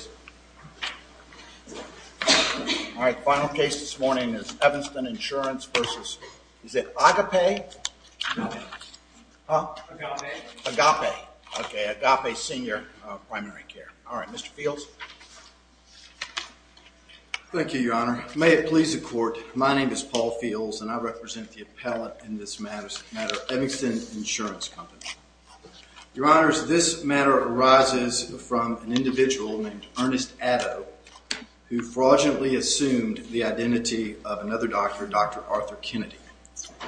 All right, final case this morning is Evanston Insurance versus, is it Agape? Agape. Agape. Okay, Agape Senior Primary Care. All right, Mr. Fields. Thank you, Your Honor. May it please the court, my name is Paul Fields and I represent the appellate in this matter, Evanston Insurance Company. Your Honor, this matter arises from an individual named Ernest Addo who fraudulently assumed the identity of another doctor, Dr. Arthur Kennedy.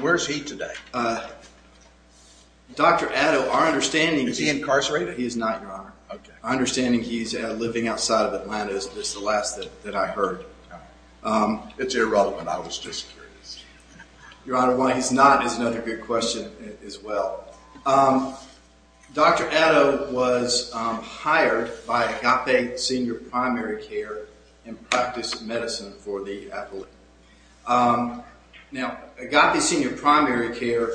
Where is he today? Dr. Addo, our understanding is... Is he incarcerated? He is not, Your Honor. Okay. Our understanding is he is living outside of Atlanta. It's the last that I heard. It's irrelevant. I was just curious. Your Honor, why he's not is another good question as well. Dr. Addo was hired by Agape Senior Primary Care in practice medicine for the appellate. Now, Agape Senior Primary Care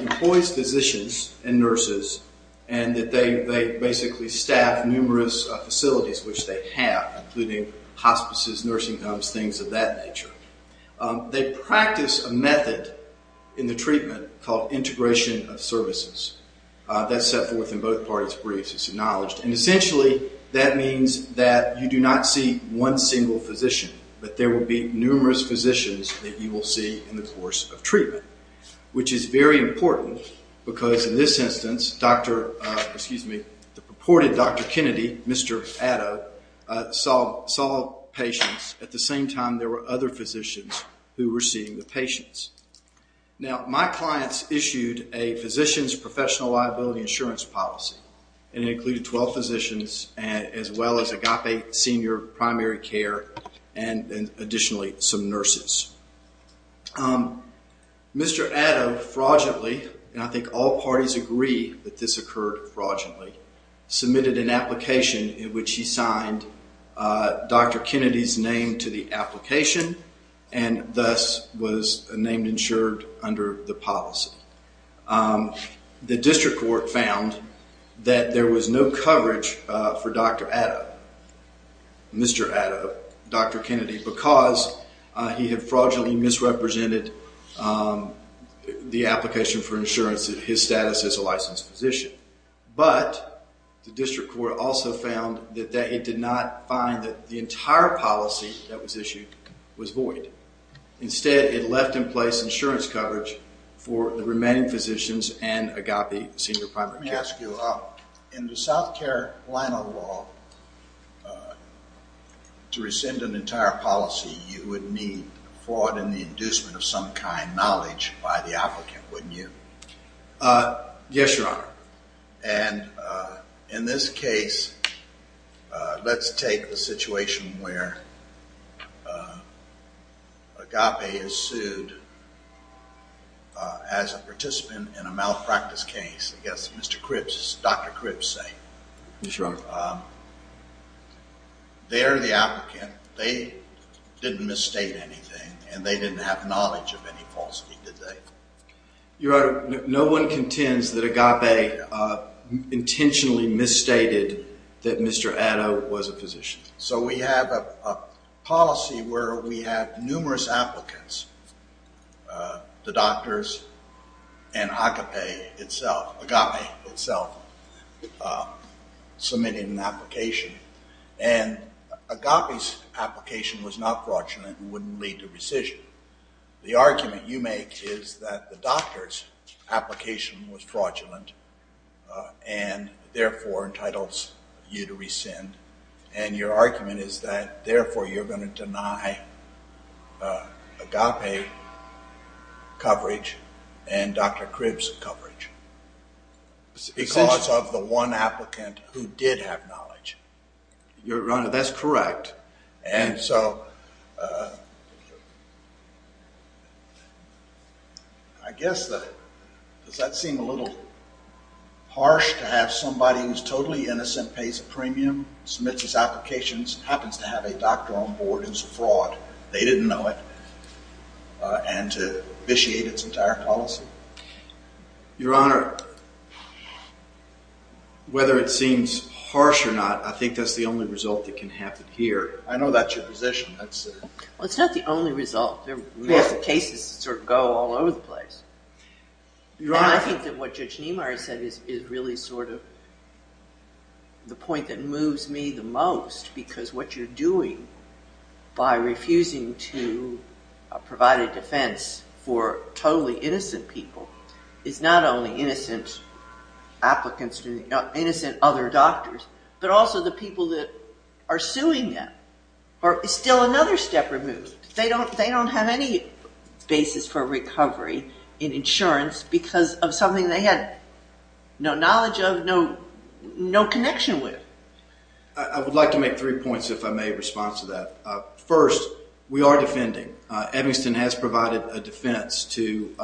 employs physicians and nurses and they basically staff numerous facilities which they have, including hospices, nursing homes, things of that nature. They practice a method in the treatment called integration of services. That's set forth in both parties' briefs. It's acknowledged. And essentially, that means that you do not see one single physician, but there will be numerous physicians that you will see in the course of treatment. Which is very important because in this instance, the purported Dr. Kennedy, Mr. Addo, saw patients at the same time there were other physicians who were seeing the patients. Now, my clients issued a physician's professional liability insurance policy and it included 12 physicians as well as Agape Senior Primary Care and additionally some nurses. Mr. Addo fraudulently, and I think all parties agree that this occurred fraudulently, submitted an application in which he signed Dr. Kennedy's name to the application and thus was named insured under the policy. The district court found that there was no coverage for Dr. Addo, Mr. Addo, Dr. Kennedy because he had fraudulently misrepresented the application for insurance, his status as a licensed physician. But the district court also found that it did not find that the entire policy that was issued was void. Instead, it left in place insurance coverage for the remaining physicians and Agape Senior Primary Care. Let me ask you, in the South Carolina law, to rescind an entire policy, you would need fraud and the inducement of some kind, knowledge by the applicant, wouldn't you? Yes, Your Honor. And in this case, let's take the situation where Agape is sued as a participant in a malpractice case against Mr. Cripps, Dr. Cripps, say. Yes, Your Honor. They're the applicant. They didn't misstate anything and they didn't have knowledge of any falsity, did they? Your Honor, no one contends that Agape intentionally misstated that Mr. Addo was a physician. So we have a policy where we have numerous applicants, the doctors and Agape itself, Agape itself, submitting an application. And Agape's application was not fraudulent and wouldn't lead to rescission. The argument you make is that the doctor's application was fraudulent and therefore entitles you to rescind. And your argument is that therefore you're going to deny Agape coverage and Dr. Cripps coverage because of the one applicant who did have knowledge. Your Honor, that's correct. And so I guess that, does that seem a little harsh to have somebody who's totally innocent, pays a premium, submits his applications, happens to have a doctor on board who's a fraud, they didn't know it, and to vitiate its entire policy? Your Honor, whether it seems harsh or not, I think that's the only result that can happen here. I know that's your position. Well, it's not the only result. There are cases that sort of go all over the place. And I think that what Judge Niemeyer said is really sort of the point that moves me the most, because what you're doing by refusing to provide a defense for totally innocent people is not only innocent applicants, innocent other doctors, but also the people that are suing them. It's still another step removed. They don't have any basis for recovery in insurance because of something they had no knowledge of, no connection with. I would like to make three points, if I may, in response to that. First, we are defending. Evanston has provided a defense to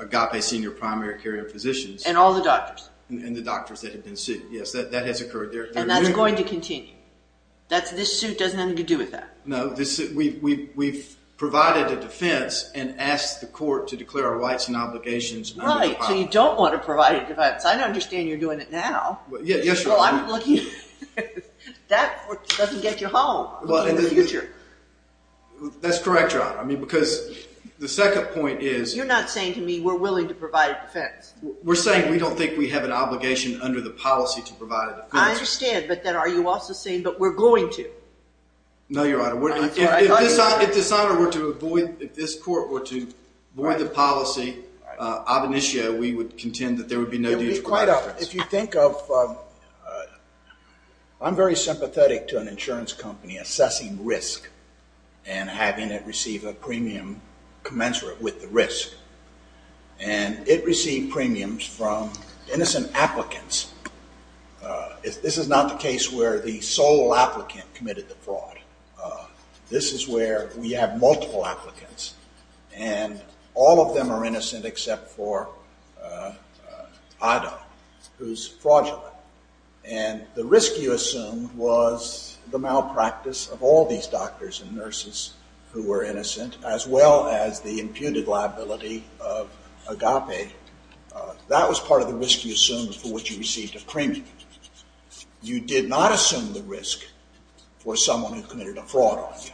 Agape senior primary care physicians. And all the doctors. And the doctors that have been sued. Yes, that has occurred. And that's going to continue. This suit doesn't have anything to do with that. No, we've provided a defense and asked the court to declare our rights and obligations. Right, so you don't want to provide a defense. I understand you're doing it now. Yes, Your Honor. That doesn't get you home in the future. That's correct, Your Honor, because the second point is... You're not saying to me we're willing to provide a defense. We're saying we don't think we have an obligation under the policy to provide a defense. I understand, but then are you also saying that we're going to? No, Your Honor. If this honor were to avoid, if this court were to avoid the policy, ab initio, we would contend that there would be no need for a defense. If you think of... I'm very sympathetic to an insurance company assessing risk and having it receive a premium commensurate with the risk. And it received premiums from innocent applicants. This is not the case where the sole applicant committed the fraud. This is where we have multiple applicants, and all of them are innocent except for Ida, who's fraudulent. And the risk you assumed was the malpractice of all these doctors and nurses who were innocent, that was part of the risk you assumed for which you received a premium. You did not assume the risk for someone who committed a fraud on you,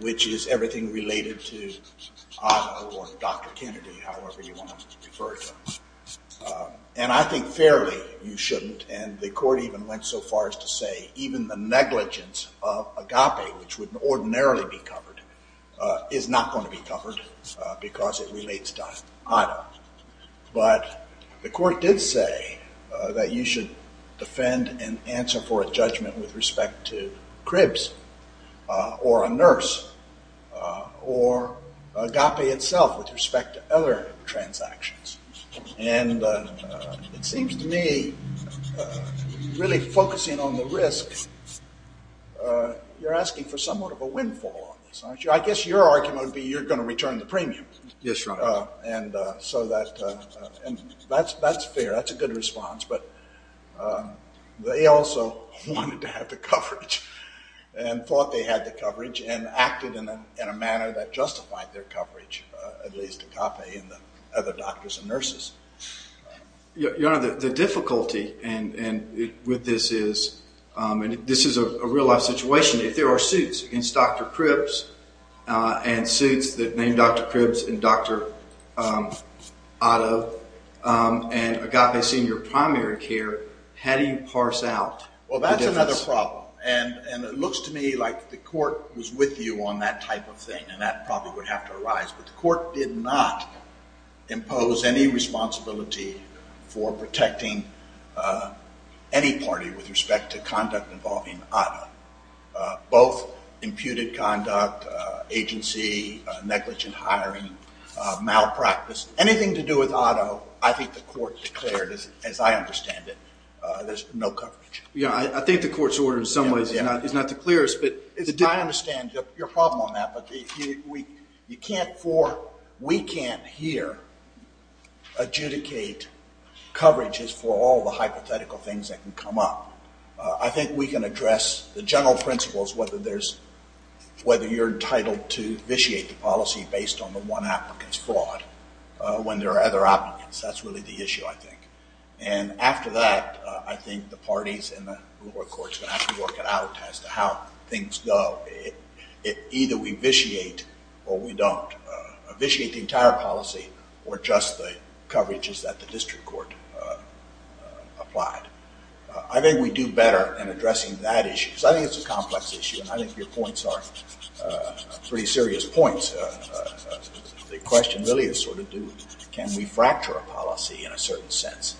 which is everything related to Ida or Dr. Kennedy, however you want to refer to them. And I think fairly you shouldn't, and the court even went so far as to say even the negligence of Agape, which would ordinarily be covered, is not going to be covered because it relates to Ida. But the court did say that you should defend and answer for a judgment with respect to Cribs or a nurse or Agape itself with respect to other transactions. And it seems to me really focusing on the risk, you're asking for somewhat of a windfall on this, aren't you? I guess your argument would be you're going to return the premium. Yes, Your Honor. And so that's fair. That's a good response, but they also wanted to have the coverage and thought they had the coverage and acted in a manner that justified their coverage, at least Agape and the other doctors and nurses. Your Honor, the difficulty with this is, and this is a real-life situation, if there are suits against Dr. Cribs and suits that name Dr. Cribs and Dr. Otto and Agape senior primary care, how do you parse out the difference? Well, that's another problem. And it looks to me like the court was with you on that type of thing, and that probably would have to arise. But the court did not impose any responsibility for protecting any party with respect to conduct involving Otto, both imputed conduct, agency, negligent hiring, malpractice. Anything to do with Otto, I think the court declared, as I understand it, there's no coverage. Yeah, I think the court's order in some ways is not the clearest. I understand your problem on that, but we can't here adjudicate coverages for all the hypothetical things that can come up. I think we can address the general principles, whether you're entitled to vitiate the policy based on the one applicant's fraud when there are other applicants. That's really the issue, I think. And after that, I think the parties in the lower court are going to have to work it out as to how things go. Either we vitiate or we don't. Vitiate the entire policy, or just the coverages that the district court applied. I think we do better in addressing that issue. Because I think it's a complex issue, and I think your points are pretty serious points. The question really is sort of, can we fracture a policy in a certain sense?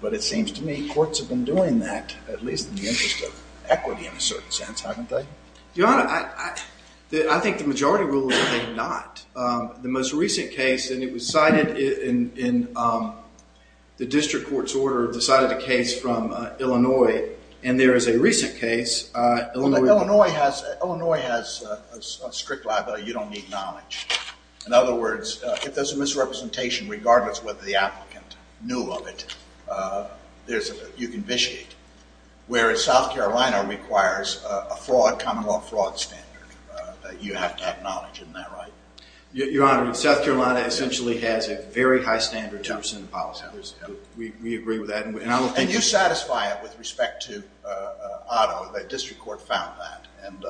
But it seems to me courts have been doing that, at least in the interest of equity in a certain sense, haven't they? Your Honor, I think the majority rule is they did not. The most recent case, and it was cited in the district court's order, decided a case from Illinois, and there is a recent case. Illinois has a strict liability, you don't need knowledge. In other words, if there's a misrepresentation, regardless of whether the applicant knew of it, you can vitiate. Whereas South Carolina requires a common law fraud standard that you have to acknowledge, isn't that right? Your Honor, South Carolina essentially has a very high standard terms and policies. We agree with that. And you satisfy it with respect to Otto, the district court found that. And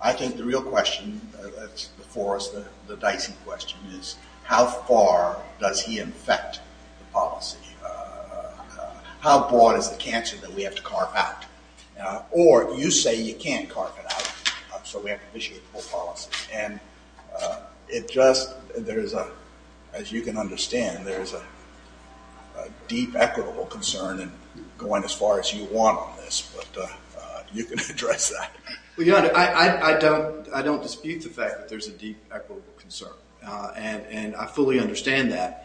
I think the real question that's before us, the Dyson question, is how far does he infect the policy? How broad is the cancer that we have to carve out? Or you say you can't carve it out, so we have to vitiate the whole policy. And it just, there is a, as you can understand, there is a deep equitable concern in going as far as you want on this, but you can address that. Well, Your Honor, I don't dispute the fact that there's a deep equitable concern. And I fully understand that.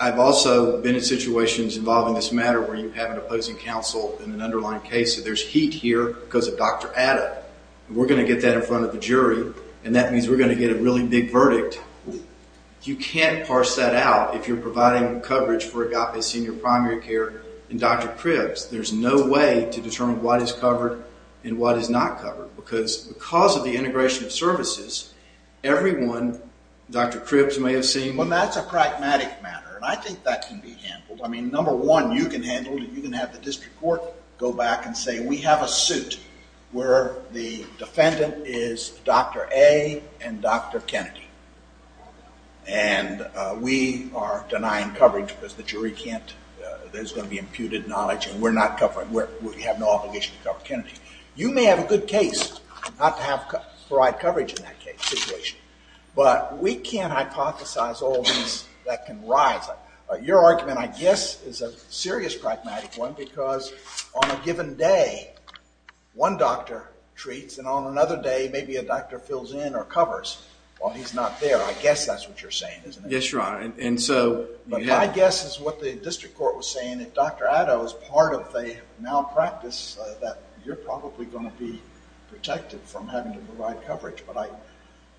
I've also been in situations involving this matter where you have an opposing counsel in an underlying case. There's heat here because of Dr. Adda. We're going to get that in front of the jury, and that means we're going to get a really big verdict. You can't parse that out if you're providing coverage for Agape Senior Primary Care and Dr. Cribs. There's no way to determine what is covered and what is not covered because of the integration of services, everyone, Dr. Cribs may have seen. Well, that's a pragmatic matter, and I think that can be handled. I mean, number one, you can handle it. You can have the district court go back and say we have a suit where the defendant is Dr. A. and Dr. Kennedy, and we are denying coverage because the jury can't, there's going to be imputed knowledge, and we have no obligation to cover Kennedy. You may have a good case not to provide coverage in that situation, but we can't hypothesize all these that can rise. Your argument, I guess, is a serious pragmatic one because on a given day one doctor treats, and on another day maybe a doctor fills in or covers while he's not there. I guess that's what you're saying, isn't it? Yes, Your Honor. My guess is what the district court was saying. If Dr. Addo is part of the malpractice, you're probably going to be protected from having to provide coverage, but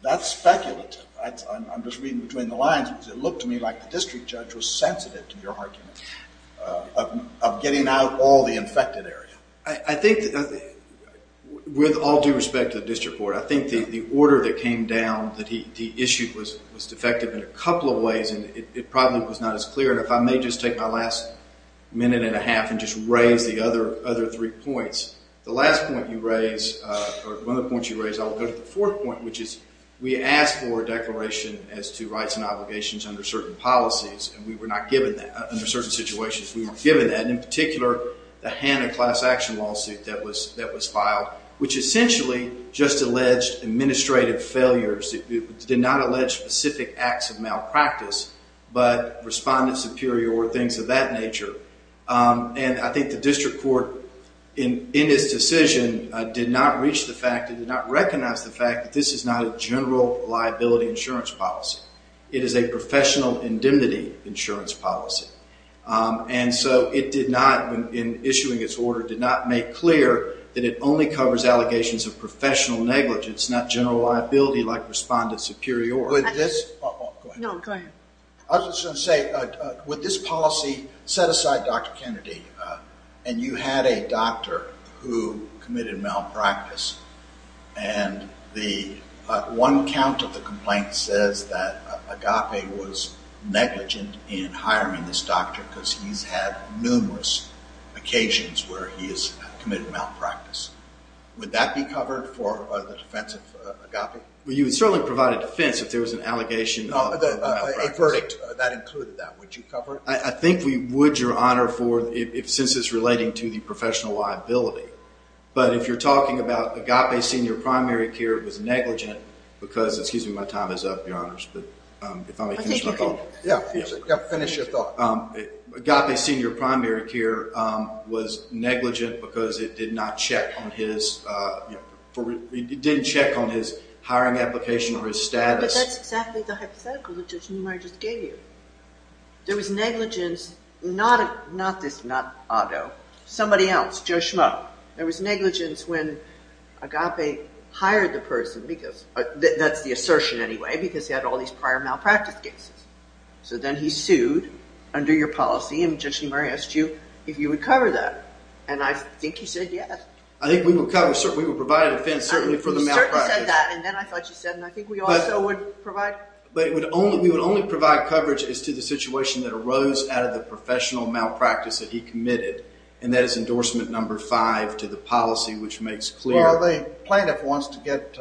that's speculative. I'm just reading between the lines because it looked to me like the district judge was sensitive to your argument of getting out all the infected area. I think that with all due respect to the district court, I think the order that came down that he issued was defective in a couple of ways, and it probably was not as clear. If I may just take my last minute and a half and just raise the other three points. The last point you raised, or one of the points you raised, I'll go to the fourth point, which is we asked for a declaration as to rights and obligations under certain policies, and we were not given that under certain situations. We were given that, and in particular, the Hanna class action lawsuit that was filed, which essentially just alleged administrative failures. It did not allege specific acts of malpractice, but respondent superior or things of that nature, and I think the district court, in its decision, did not reach the fact, did not recognize the fact that this is not a general liability insurance policy. It is a professional indemnity insurance policy, and so it did not, in issuing its order, did not make clear that it only covers allegations of professional negligence, not general liability like respondent superior. With this... Go ahead. No, go ahead. I was just going to say, with this policy, set aside Dr. Kennedy, and you had a doctor who committed malpractice, and the one count of the complaint says that Agape was negligent in hiring this doctor because he's had numerous occasions where he has committed malpractice. Would that be covered for the defense of Agape? Well, you would certainly provide a defense if there was an allegation of malpractice. A verdict that included that. Would you cover it? I think we would, Your Honor, since it's relating to the professional liability, but if you're talking about Agape Senior Primary Care was negligent because... Excuse me, my time is up, Your Honors, but if I may finish my thought. Yeah, finish your thought. Agape Senior Primary Care was negligent because it did not check on his... It didn't check on his hiring application or his status. But that's exactly the hypothetical that Judge Neumeyer just gave you. There was negligence, not this, not Otto, somebody else, Joe Schmo. There was negligence when Agape hired the person, because that's the assertion anyway, because he had all these prior malpractice cases. So then he sued under your policy, and Judge Neumeyer asked you if you would cover that, and I think you said yes. I think we would cover, we would provide a defense, certainly for the malpractice. You certainly said that, and then I thought you said, and I think we also would provide... But we would only provide coverage as to the situation that arose out of the professional malpractice that he committed, and that is endorsement number five to the policy, which makes clear... Well, the plaintiff wants to get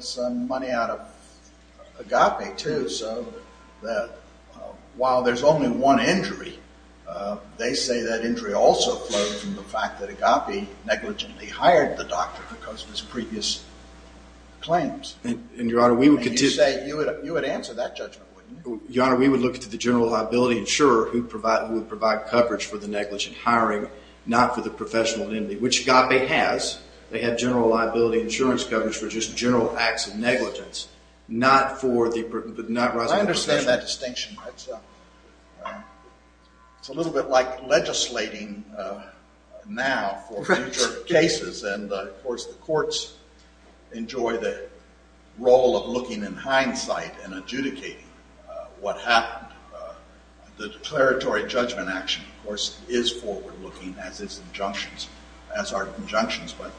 some money out of Agape, too, so that while there's only one injury, they say that injury also flows from the fact that Agape negligently hired the doctor because of his previous claims. And, Your Honor, we would continue... You would answer that judgment, wouldn't you? Your Honor, we would look to the general liability insurer who would provide coverage for the negligent hiring, not for the professional identity, which Agape has. They have general liability insurance coverage for just general acts of negligence, not for the... I understand that distinction. It's a little bit like legislating now for future cases, and, of course, the courts enjoy the role of looking in hindsight and adjudicating what happened. The declaratory judgment action, of course, is forward-looking as is injunctions, as are injunctions, but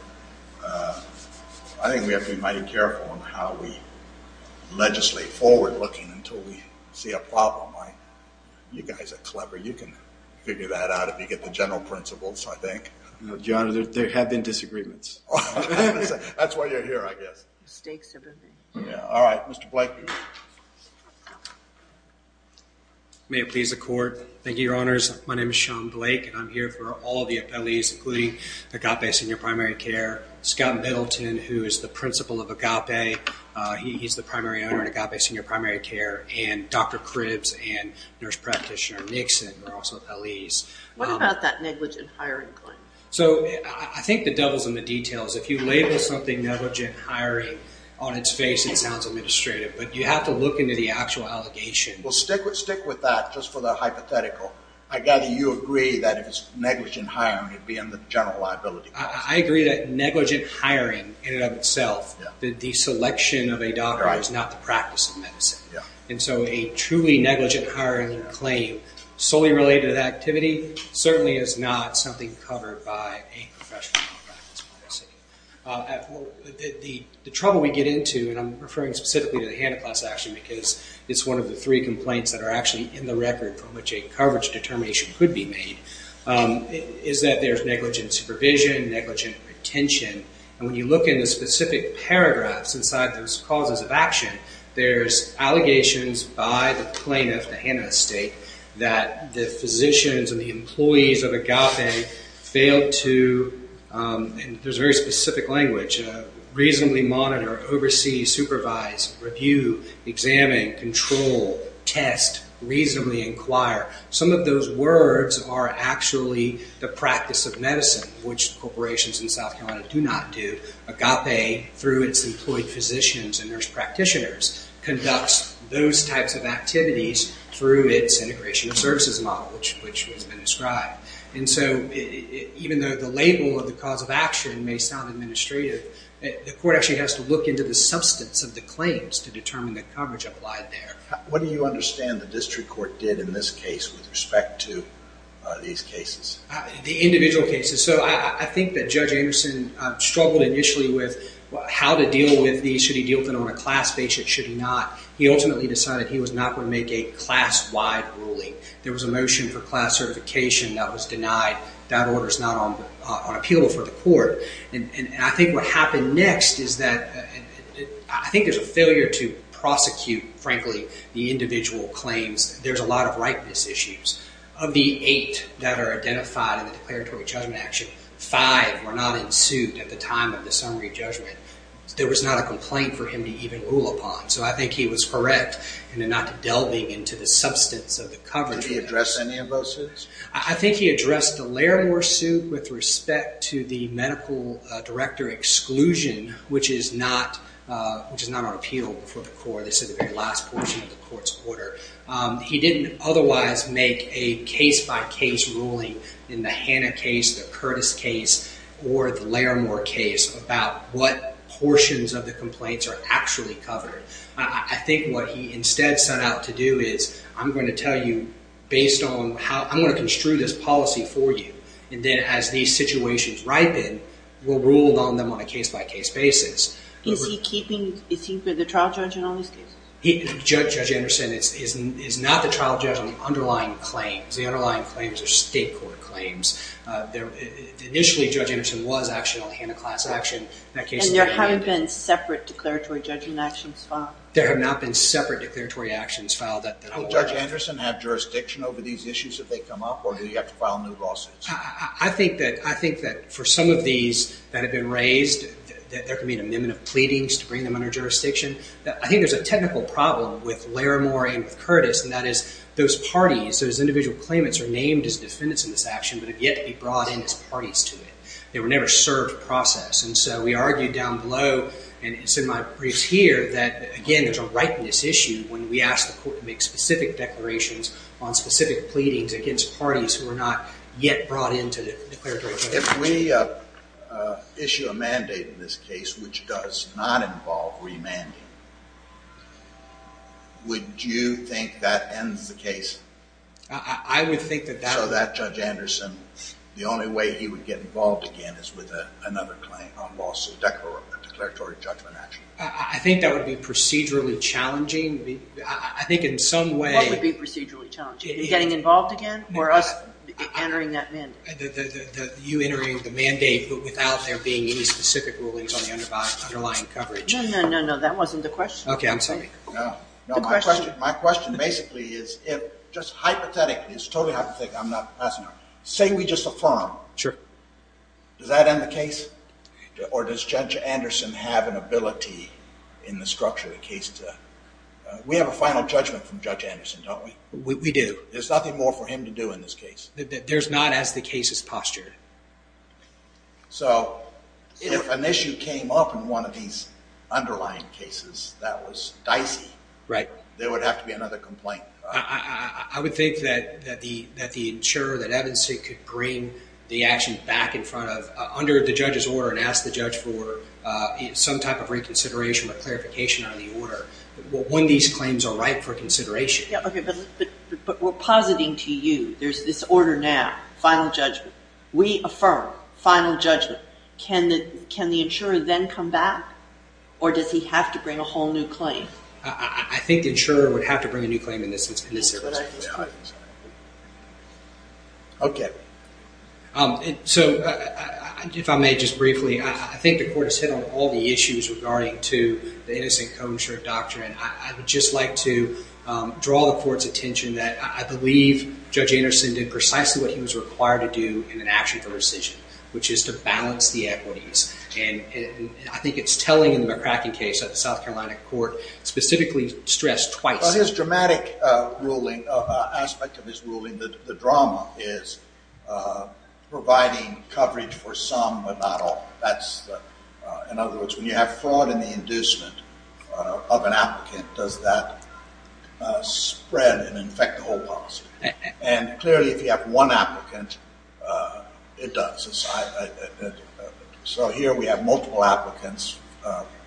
I think we have to be mighty careful on how we legislate forward-looking until we see a problem. You guys are clever. You can figure that out if you get the general principles, I think. Your Honor, there have been disagreements. That's why you're here, I guess. Mistakes, everything. All right, Mr. Blake. May it please the Court. Thank you, Your Honors. My name is Sean Blake, and I'm here for all the appellees, including Agape Senior Primary Care. Scott Middleton, who is the principal of Agape, he's the primary owner of Agape Senior Primary Care, and Dr. Cribs and nurse practitioner Nixon are also appellees. What about that negligent hiring claim? So I think the devil's in the details. If you label something negligent hiring on its face, it sounds administrative, but you have to look into the actual allegations. Well, stick with that, just for the hypothetical. I gather you agree that if it's negligent hiring, it'd be under the general liability clause. I agree that negligent hiring in and of itself, the selection of a doctor is not the practice of medicine. And so a truly negligent hiring claim, solely related to that activity, certainly is not something covered by a professional practice. The trouble we get into, and I'm referring specifically to the Hanna-Kloss action, because it's one of the three complaints that are actually in the record from which a coverage determination could be made, is that there's negligent supervision, negligent retention. And when you look in the specific paragraphs inside those causes of action, there's allegations by the plaintiff, the Hanna estate, that the physicians and the employees of Agape failed to, there's a very specific language, reasonably monitor, oversee, supervise, review, examine, control, test, reasonably inquire. Some of those words are actually the practice of medicine, which corporations in South Carolina do not do. Agape, through its employed physicians and nurse practitioners, conducts those types of activities through its integration of services model, which has been described. And so even though the label of the cause of action may sound administrative, the court actually has to look into the substance of the claims to determine the coverage applied there. What do you understand the district court did in this case with respect to these cases? The individual cases. So I think that Judge Anderson struggled initially with how to deal with these. Should he deal with them on a class basis, should he not? He ultimately decided he was not going to make a class-wide ruling. There was a motion for class certification that was denied. That order's not on appeal before the court. And I think what happened next is that, I think there's a failure to prosecute, frankly, the individual claims. There's a lot of ripeness issues. Of the eight that are identified in the declaratory judgment action, five were not in suit at the time of the summary judgment. There was not a complaint for him to even rule upon. So I think he was correct in not delving into the substance of the coverage. Did he address any of those suits? I think he addressed the Larimer suit with respect to the medical director exclusion, which is not on appeal before the court. This is the very last portion of the court's order. He didn't otherwise make a case-by-case ruling in the Hanna case, the Curtis case, or the Larimer case about what portions of the complaints are actually covered. I think what he instead set out to do is, I'm going to tell you based on how, I'm going to construe this policy for you. And then as these situations ripen, we'll rule on them on a case-by-case basis. Is he keeping, is he the trial judge in all these cases? Judge Anderson is not the trial judge on the underlying claims. The underlying claims are state court claims. Initially, Judge Anderson was actually on the Hanna class action. And there haven't been separate declaratory judgment actions filed? There have not been separate declaratory actions filed. Will Judge Anderson have jurisdiction over these issues if they come up, or do you have to file new lawsuits? I think that for some of these that have been raised, there can be an amendment of pleadings to bring them under jurisdiction. I think there's a technical problem with Larimer and with Curtis, and that is those parties, those individual claimants, are named as defendants in this action, but have yet to be brought in as parties to it. They were never served process. And so we argued down below, and it's in my briefs here, that, again, there's a ripeness issue when we ask the court to make specific declarations on specific pleadings against parties who are not yet brought in to declaratory judgment. If we issue a mandate in this case which does not involve remanding, would you think that ends the case? I would think that that would... So that Judge Anderson, the only way he would get involved again is with another claim on lawsuit declaratory judgment action. I think that would be procedurally challenging. I think in some way... What would be procedurally challenging? Getting involved again, or us entering that mandate? You entering the mandate, but without there being any specific rulings on the underlying coverage? No, no, no, no, that wasn't the question. Okay, I'm sorry. My question basically is if, just hypothetically, it's a totally hypothetical thing, I'm not asking you. Say we just affirm. Does that end the case? Or does Judge Anderson have an ability in the structure of the case to... We have a final judgment from Judge Anderson, don't we? We do. There's nothing more for him to do in this case. There's not as the case is postured. So if an issue came up in one of these underlying cases that was dicey, there would have to be another complaint. I would think that the insurer, that Evanson, could bring the action back in front of, under the judge's order, and ask the judge for some type of reconsideration or clarification on the order, when these claims are ripe for consideration. But we're positing to you there's this order now, final judgment. We affirm, final judgment. Can the insurer then come back? Or does he have to bring a whole new claim? I think the insurer would have to bring a new claim in this instance. Okay. So if I may just briefly, I think the court has hit on all the issues regarding to the innocent co-insured doctrine. And I would just like to draw the court's attention that I believe Judge Anderson did precisely what he was required to do in an action for rescission, which is to balance the equities. And I think it's telling in the McCracken case that the South Carolina court specifically stressed twice. Well, his dramatic aspect of his ruling, the drama, is providing coverage for some but not all. In other words, when you have fraud in the inducement of an applicant, does that spread and infect the whole policy? And clearly, if you have one applicant, it does. So here we have multiple applicants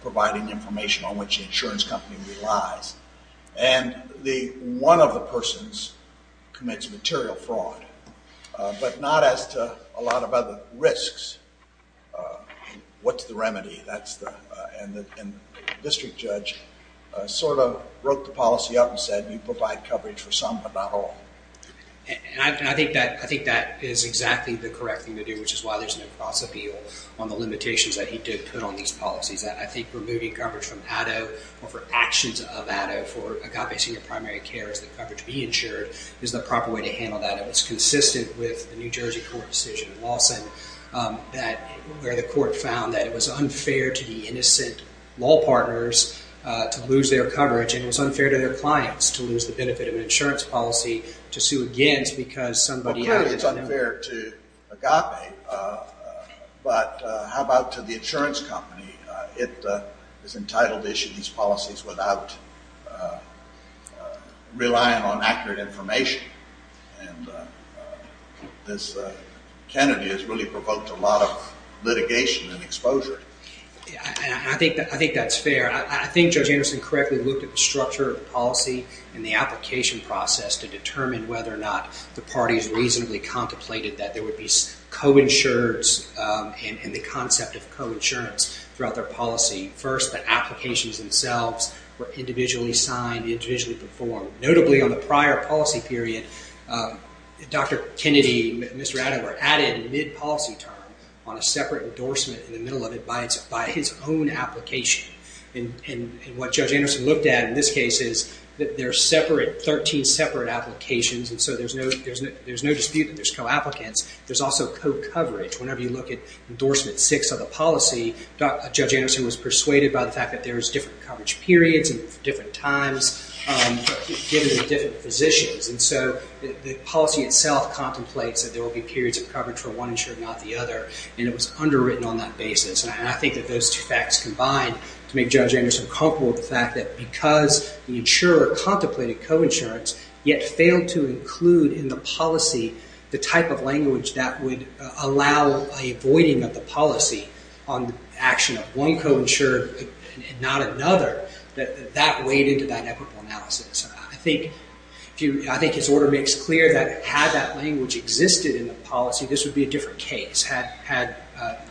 providing information on which the insurance company relies. And one of the persons commits material fraud, but not as to a lot of other risks. What's the remedy? And the district judge sort of broke the policy up and said, you provide coverage for some but not all. And I think that is exactly the correct thing to do, which is why there's no cross-appeal on the limitations that he did put on these policies. I think removing coverage from ADDO or for actions of ADDO for agape senior primary care is the coverage to be insured is the proper way to handle that. It was consistent with the New Jersey court decision in Lawson where the court found that it was unfair to the innocent law partners to lose their coverage, and it was unfair to their clients to lose the benefit of an insurance policy to sue against because somebody else... Well, clearly it's unfair to agape, It is entitled to issue these policies without relying on accurate information. And this candidate has really provoked a lot of litigation and exposure. I think that's fair. I think Judge Anderson correctly looked at the structure of the policy and the application process to determine whether or not the parties reasonably contemplated that there would be co-insurers and the concept of co-insurance throughout their policy. First, the applications themselves were individually signed, individually performed. Notably, on the prior policy period, Dr. Kennedy and Mr. Adams were added mid-policy term on a separate endorsement in the middle of it by his own application. And what Judge Anderson looked at in this case is that there are 13 separate applications, and so there's no dispute that there's co-applicants. There's also co-coverage. Whenever you look at endorsement six of the policy, Judge Anderson was persuaded by the fact that there's different coverage periods and different times given to different physicians. And so the policy itself contemplates that there will be periods of coverage for one insurer, not the other, and it was underwritten on that basis. And I think that those two facts combined to make Judge Anderson comfortable with the fact that because the insurer contemplated co-insurance, yet failed to include in the policy the type of language that would allow a voiding of the policy on the action of one co-insurer and not another, that that weighed into that equitable analysis. I think his order makes clear that had that language existed in the policy, this would be a different case. Had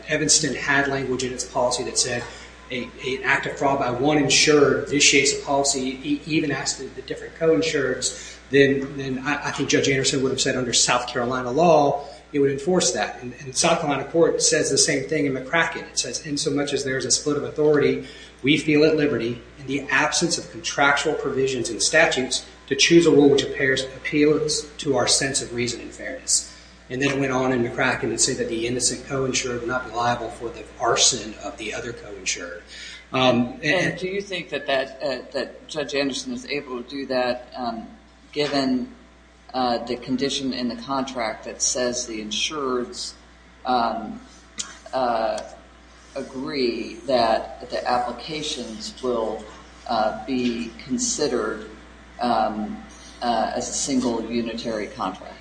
Evanston had language in its policy that said an act of fraud by one insurer initiates a policy, even asked the different co-insurers, then I think Judge Anderson would have said under South Carolina law, it would enforce that. And South Carolina court says the same thing in McCracken. It says, in so much as there is a split of authority, we feel at liberty in the absence of contractual provisions and statutes to choose a rule which appeals to our sense of reason and fairness. And then it went on in McCracken to say that the innocent co-insurer would not be liable for the arson of the other co-insured. Do you think that Judge Anderson was able to do that given the condition in the contract that says the insurers agree that the applications will be considered as a single unitary contract?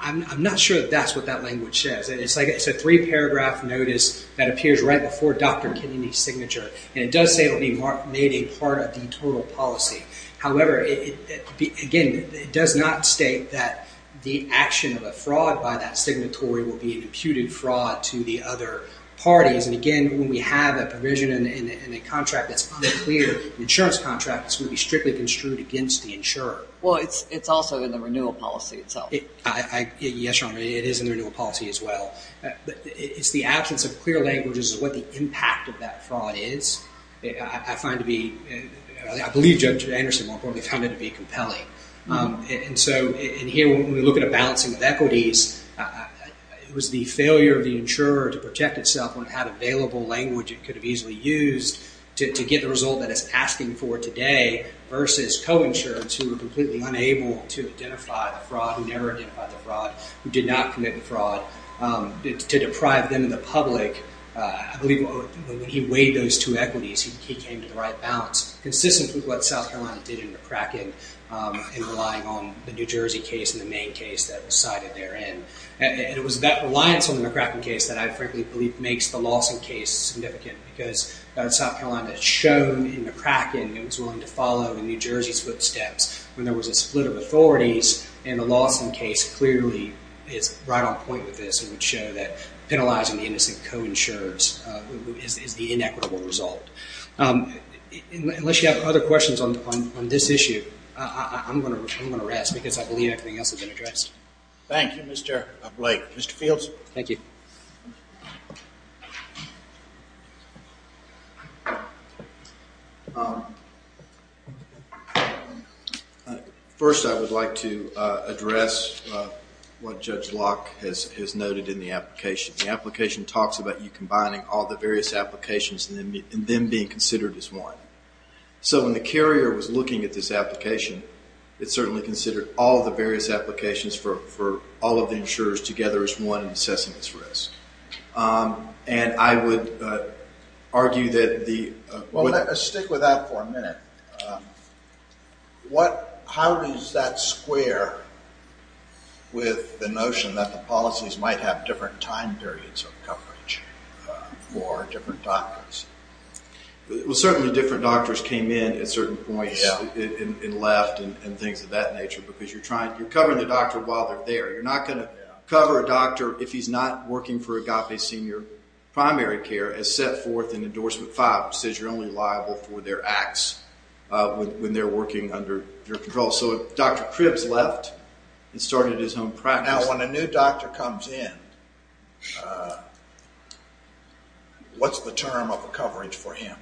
I'm not sure that that's what that language says. It's a three-paragraph notice that appears right before Dr. Kennedy's signature, and it does say it will be made a part of the total policy. However, again, it does not state that the action of a fraud by that signatory will be an imputed fraud to the other parties. And again, when we have a provision in a contract that's clear, an insurance contract, it's going to be strictly construed against the insurer. Well, it's also in the renewal policy itself. Yes, Your Honor, it is in the renewal policy as well. It's the absence of clear languages of what the impact of that fraud is. I believe Judge Anderson, more importantly, found it to be compelling. And so in here, when we look at a balancing of equities, it was the failure of the insurer to protect itself when it had available language it could have easily used to get the result that it's asking for today versus co-insureds who were completely unable to identify the fraud, who did not commit the fraud, to deprive them of the public. I believe when he weighed those two equities, he came to the right balance, consistent with what South Carolina did in McCracken in relying on the New Jersey case and the Maine case that was cited therein. And it was that reliance on the McCracken case that I frankly believe makes the Lawson case significant because South Carolina had shown in McCracken it was willing to follow in New Jersey's footsteps when there was a split of authorities. And the Lawson case clearly is right on point with this and would show that penalizing the innocent co-insurers is the inequitable result. Unless you have other questions on this issue, I'm going to rest because I believe everything else has been addressed. Thank you, Mr. Blake. Mr. Fields? Thank you. First, I would like to address what Judge Locke has noted in the application. The application talks about you combining all the various applications and them being considered as one. So when the carrier was looking at this application, it certainly considered all the various applications for all of the insurers together as one in assessing this risk. And I would argue that the... Well, stick with that for a minute. How does that square with the notion that the policies might have different time periods of coverage for different doctors? Well, certainly different doctors came in at certain points and left and things of that nature because you're covering the doctor while they're there. You're not going to cover a doctor if he's not working for Agape Senior Primary Care as set forth in Endorsement 5, which says you're only liable for their acts when they're working under your control. So if Dr. Cribbs left and started his own practice... Now, when a new doctor comes in, what's the term of coverage for him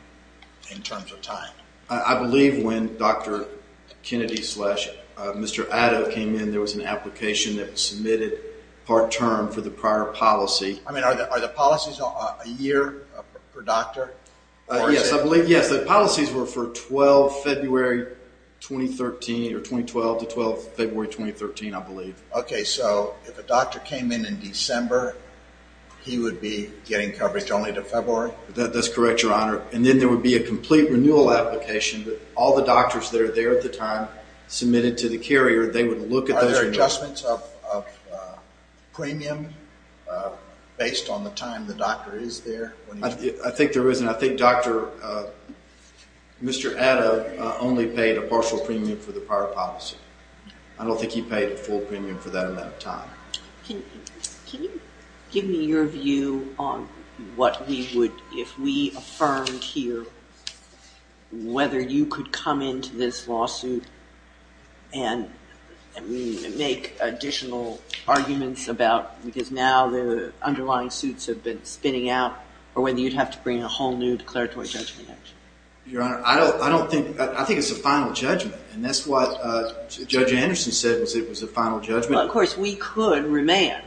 in terms of time? I believe when Dr. Kennedy-slash-Mr. Addo came in, there was an application that was submitted part-term for the prior policy. I mean, are the policies a year per doctor? Yes, I believe, yes. The policies were for 12 February 2013, or 2012 to 12 February 2013, I believe. OK, so if a doctor came in in December, he would be getting coverage only to February? That's correct, Your Honour. And then there would be a complete renewal application that all the doctors that are there at the time submitted to the carrier, they would look at those... Are there any adjustments of premium based on the time the doctor is there? I think there is, and I think Dr. Mr. Addo only paid a partial premium for the prior policy. I don't think he paid a full premium for that amount of time. Can you give me your view on what we would, if we affirmed here whether you could come into this lawsuit and make additional arguments about... because now the underlying suits have been spinning out, or whether you'd have to bring a whole new declaratory judgment? Your Honour, I don't think... I think it's a final judgment, and that's what Judge Anderson said, was it was a final judgment. Well, of course, we could remand.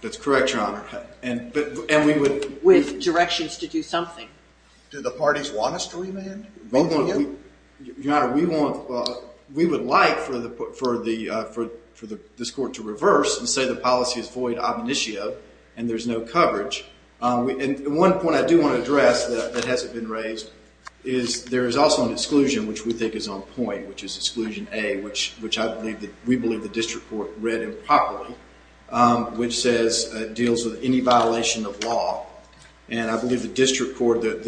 That's correct, Your Honour. And we would... With directions to do something. Do the parties want us to remand? Your Honour, we would like for this court to reverse and say the policy is void ob initio, and there's no coverage. And one point I do want to address that hasn't been raised is there is also an exclusion, which we think is on point, which is exclusion A, which we believe the district court read improperly, which deals with any violation of law. And I believe the district court... to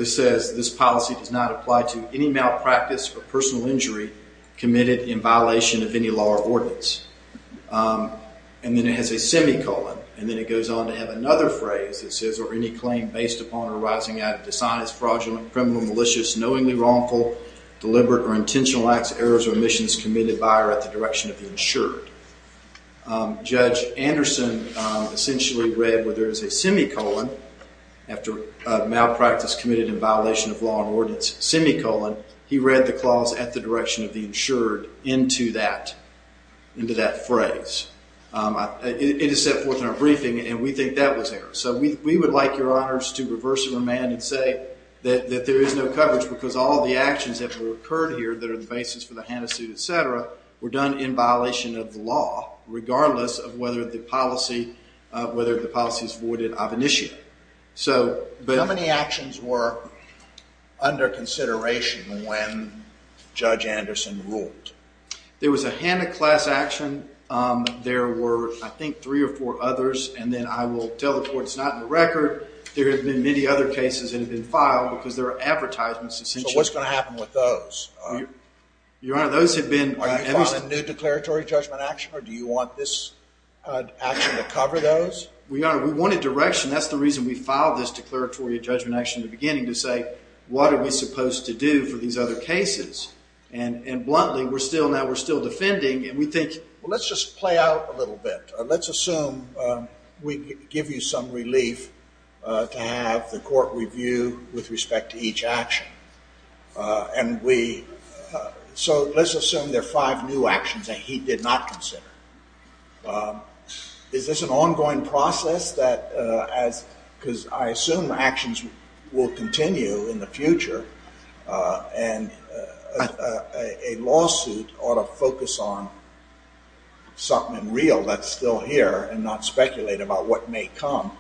any malpractice or personal injury committed in violation of any law or ordinance. And then it has a semicolon, and then it goes on to have another phrase. It says, or any claim based upon or arising out of dishonest, fraudulent, criminal, malicious, knowingly wrongful, deliberate, or intentional acts, errors, or omissions committed by or at the direction of the insured. Judge Anderson essentially read where there is a semicolon, after malpractice committed in violation of law or ordinance, semicolon, he read the clause at the direction of the insured into that phrase. It is set forth in our briefing, and we think that was error. So we would like, Your Honors, to reverse and remand and say that there is no coverage because all the actions that were occurred here that are the basis for the Hanna suit, et cetera, were done in violation of the law, regardless of whether the policy is voided ob initio. So how many actions were under consideration when Judge Anderson ruled? There was a Hanna class action. There were, I think, three or four others. And then I will tell the court it's not in the record. There have been many other cases that have been filed because there are advertisements essentially. So what's going to happen with those? Your Honor, those have been... Are you filing a new declaratory judgment action, or do you want this action to cover those? Your Honor, we wanted direction. That's the reason we filed this declaratory judgment action in the beginning, to say what are we supposed to do for these other cases. And bluntly, now we're still defending, and we think... Well, let's just play out a little bit. Let's assume we give you some relief to have the court review with respect to each action. And we... So let's assume there are five new actions that he did not consider. Is this an ongoing process that as... Because I assume actions will continue in the future, and a lawsuit ought to focus on something real that's still here and not speculate about what may come.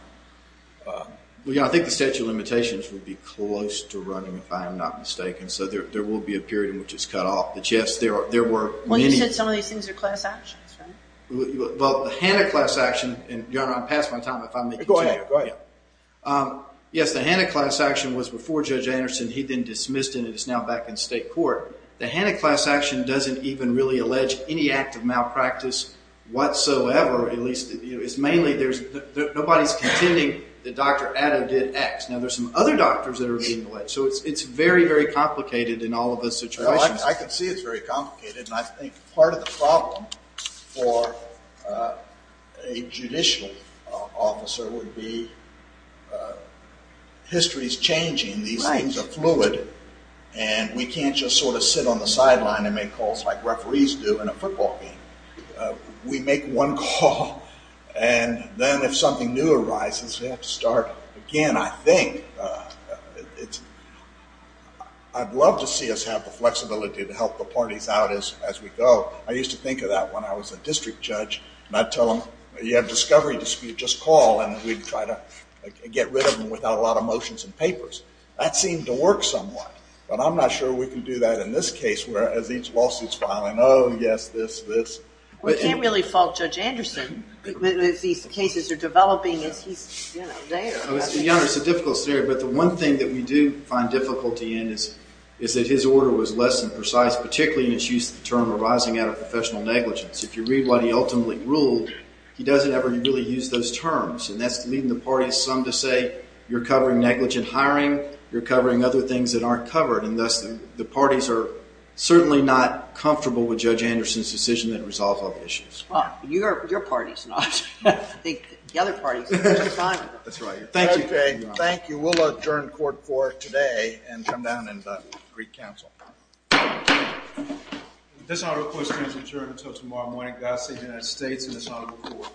Well, Your Honor, I think the statute of limitations would be close to running, if I am not mistaken. So there will be a period in which it's cut off. But, yes, there were many... Well, the Hanna-class action... Your Honor, I've passed my time, if I may continue. Go ahead, go ahead. Yes, the Hanna-class action was before Judge Anderson. He then dismissed it, and it's now back in state court. The Hanna-class action doesn't even really allege any act of malpractice whatsoever. At least, it's mainly... Nobody's contending that Dr. Addo did X. Now, there's some other doctors that are being alleged. So it's very, very complicated in all of those situations. I can see it's very complicated, and I think part of the problem for a judicial officer would be history's changing. These things are fluid, and we can't just sort of sit on the sideline and make calls like referees do in a football game. We make one call, and then if something new arises, we have to start again, I think. I'd love to see us have the flexibility to help the parties out as we go. I used to think of that when I was a district judge, and I'd tell them, you have a discovery dispute, just call, and we'd try to get rid of them without a lot of motions and papers. That seemed to work somewhat. But I'm not sure we can do that in this case, where as each lawsuit's filing, oh, yes, this, this. We can't really fault Judge Anderson. As these cases are developing, he's there. It's a difficult scenario, but the one thing that we do find difficulty in is that his order was less than precise, particularly in his use of the term arising out of professional negligence. If you read what he ultimately ruled, he doesn't ever really use those terms, and that's leading the parties some to say, you're covering negligent hiring, you're covering other things that aren't covered, and thus the parties are certainly not comfortable with Judge Anderson's decision that resolves all the issues. Well, your party's not. I think the other parties are just fine with it. That's right. Thank you. Thank you. We will adjourn court for today and come down and re-counsel. This honorable question is adjourned until tomorrow morning. God save the United States and this honorable court.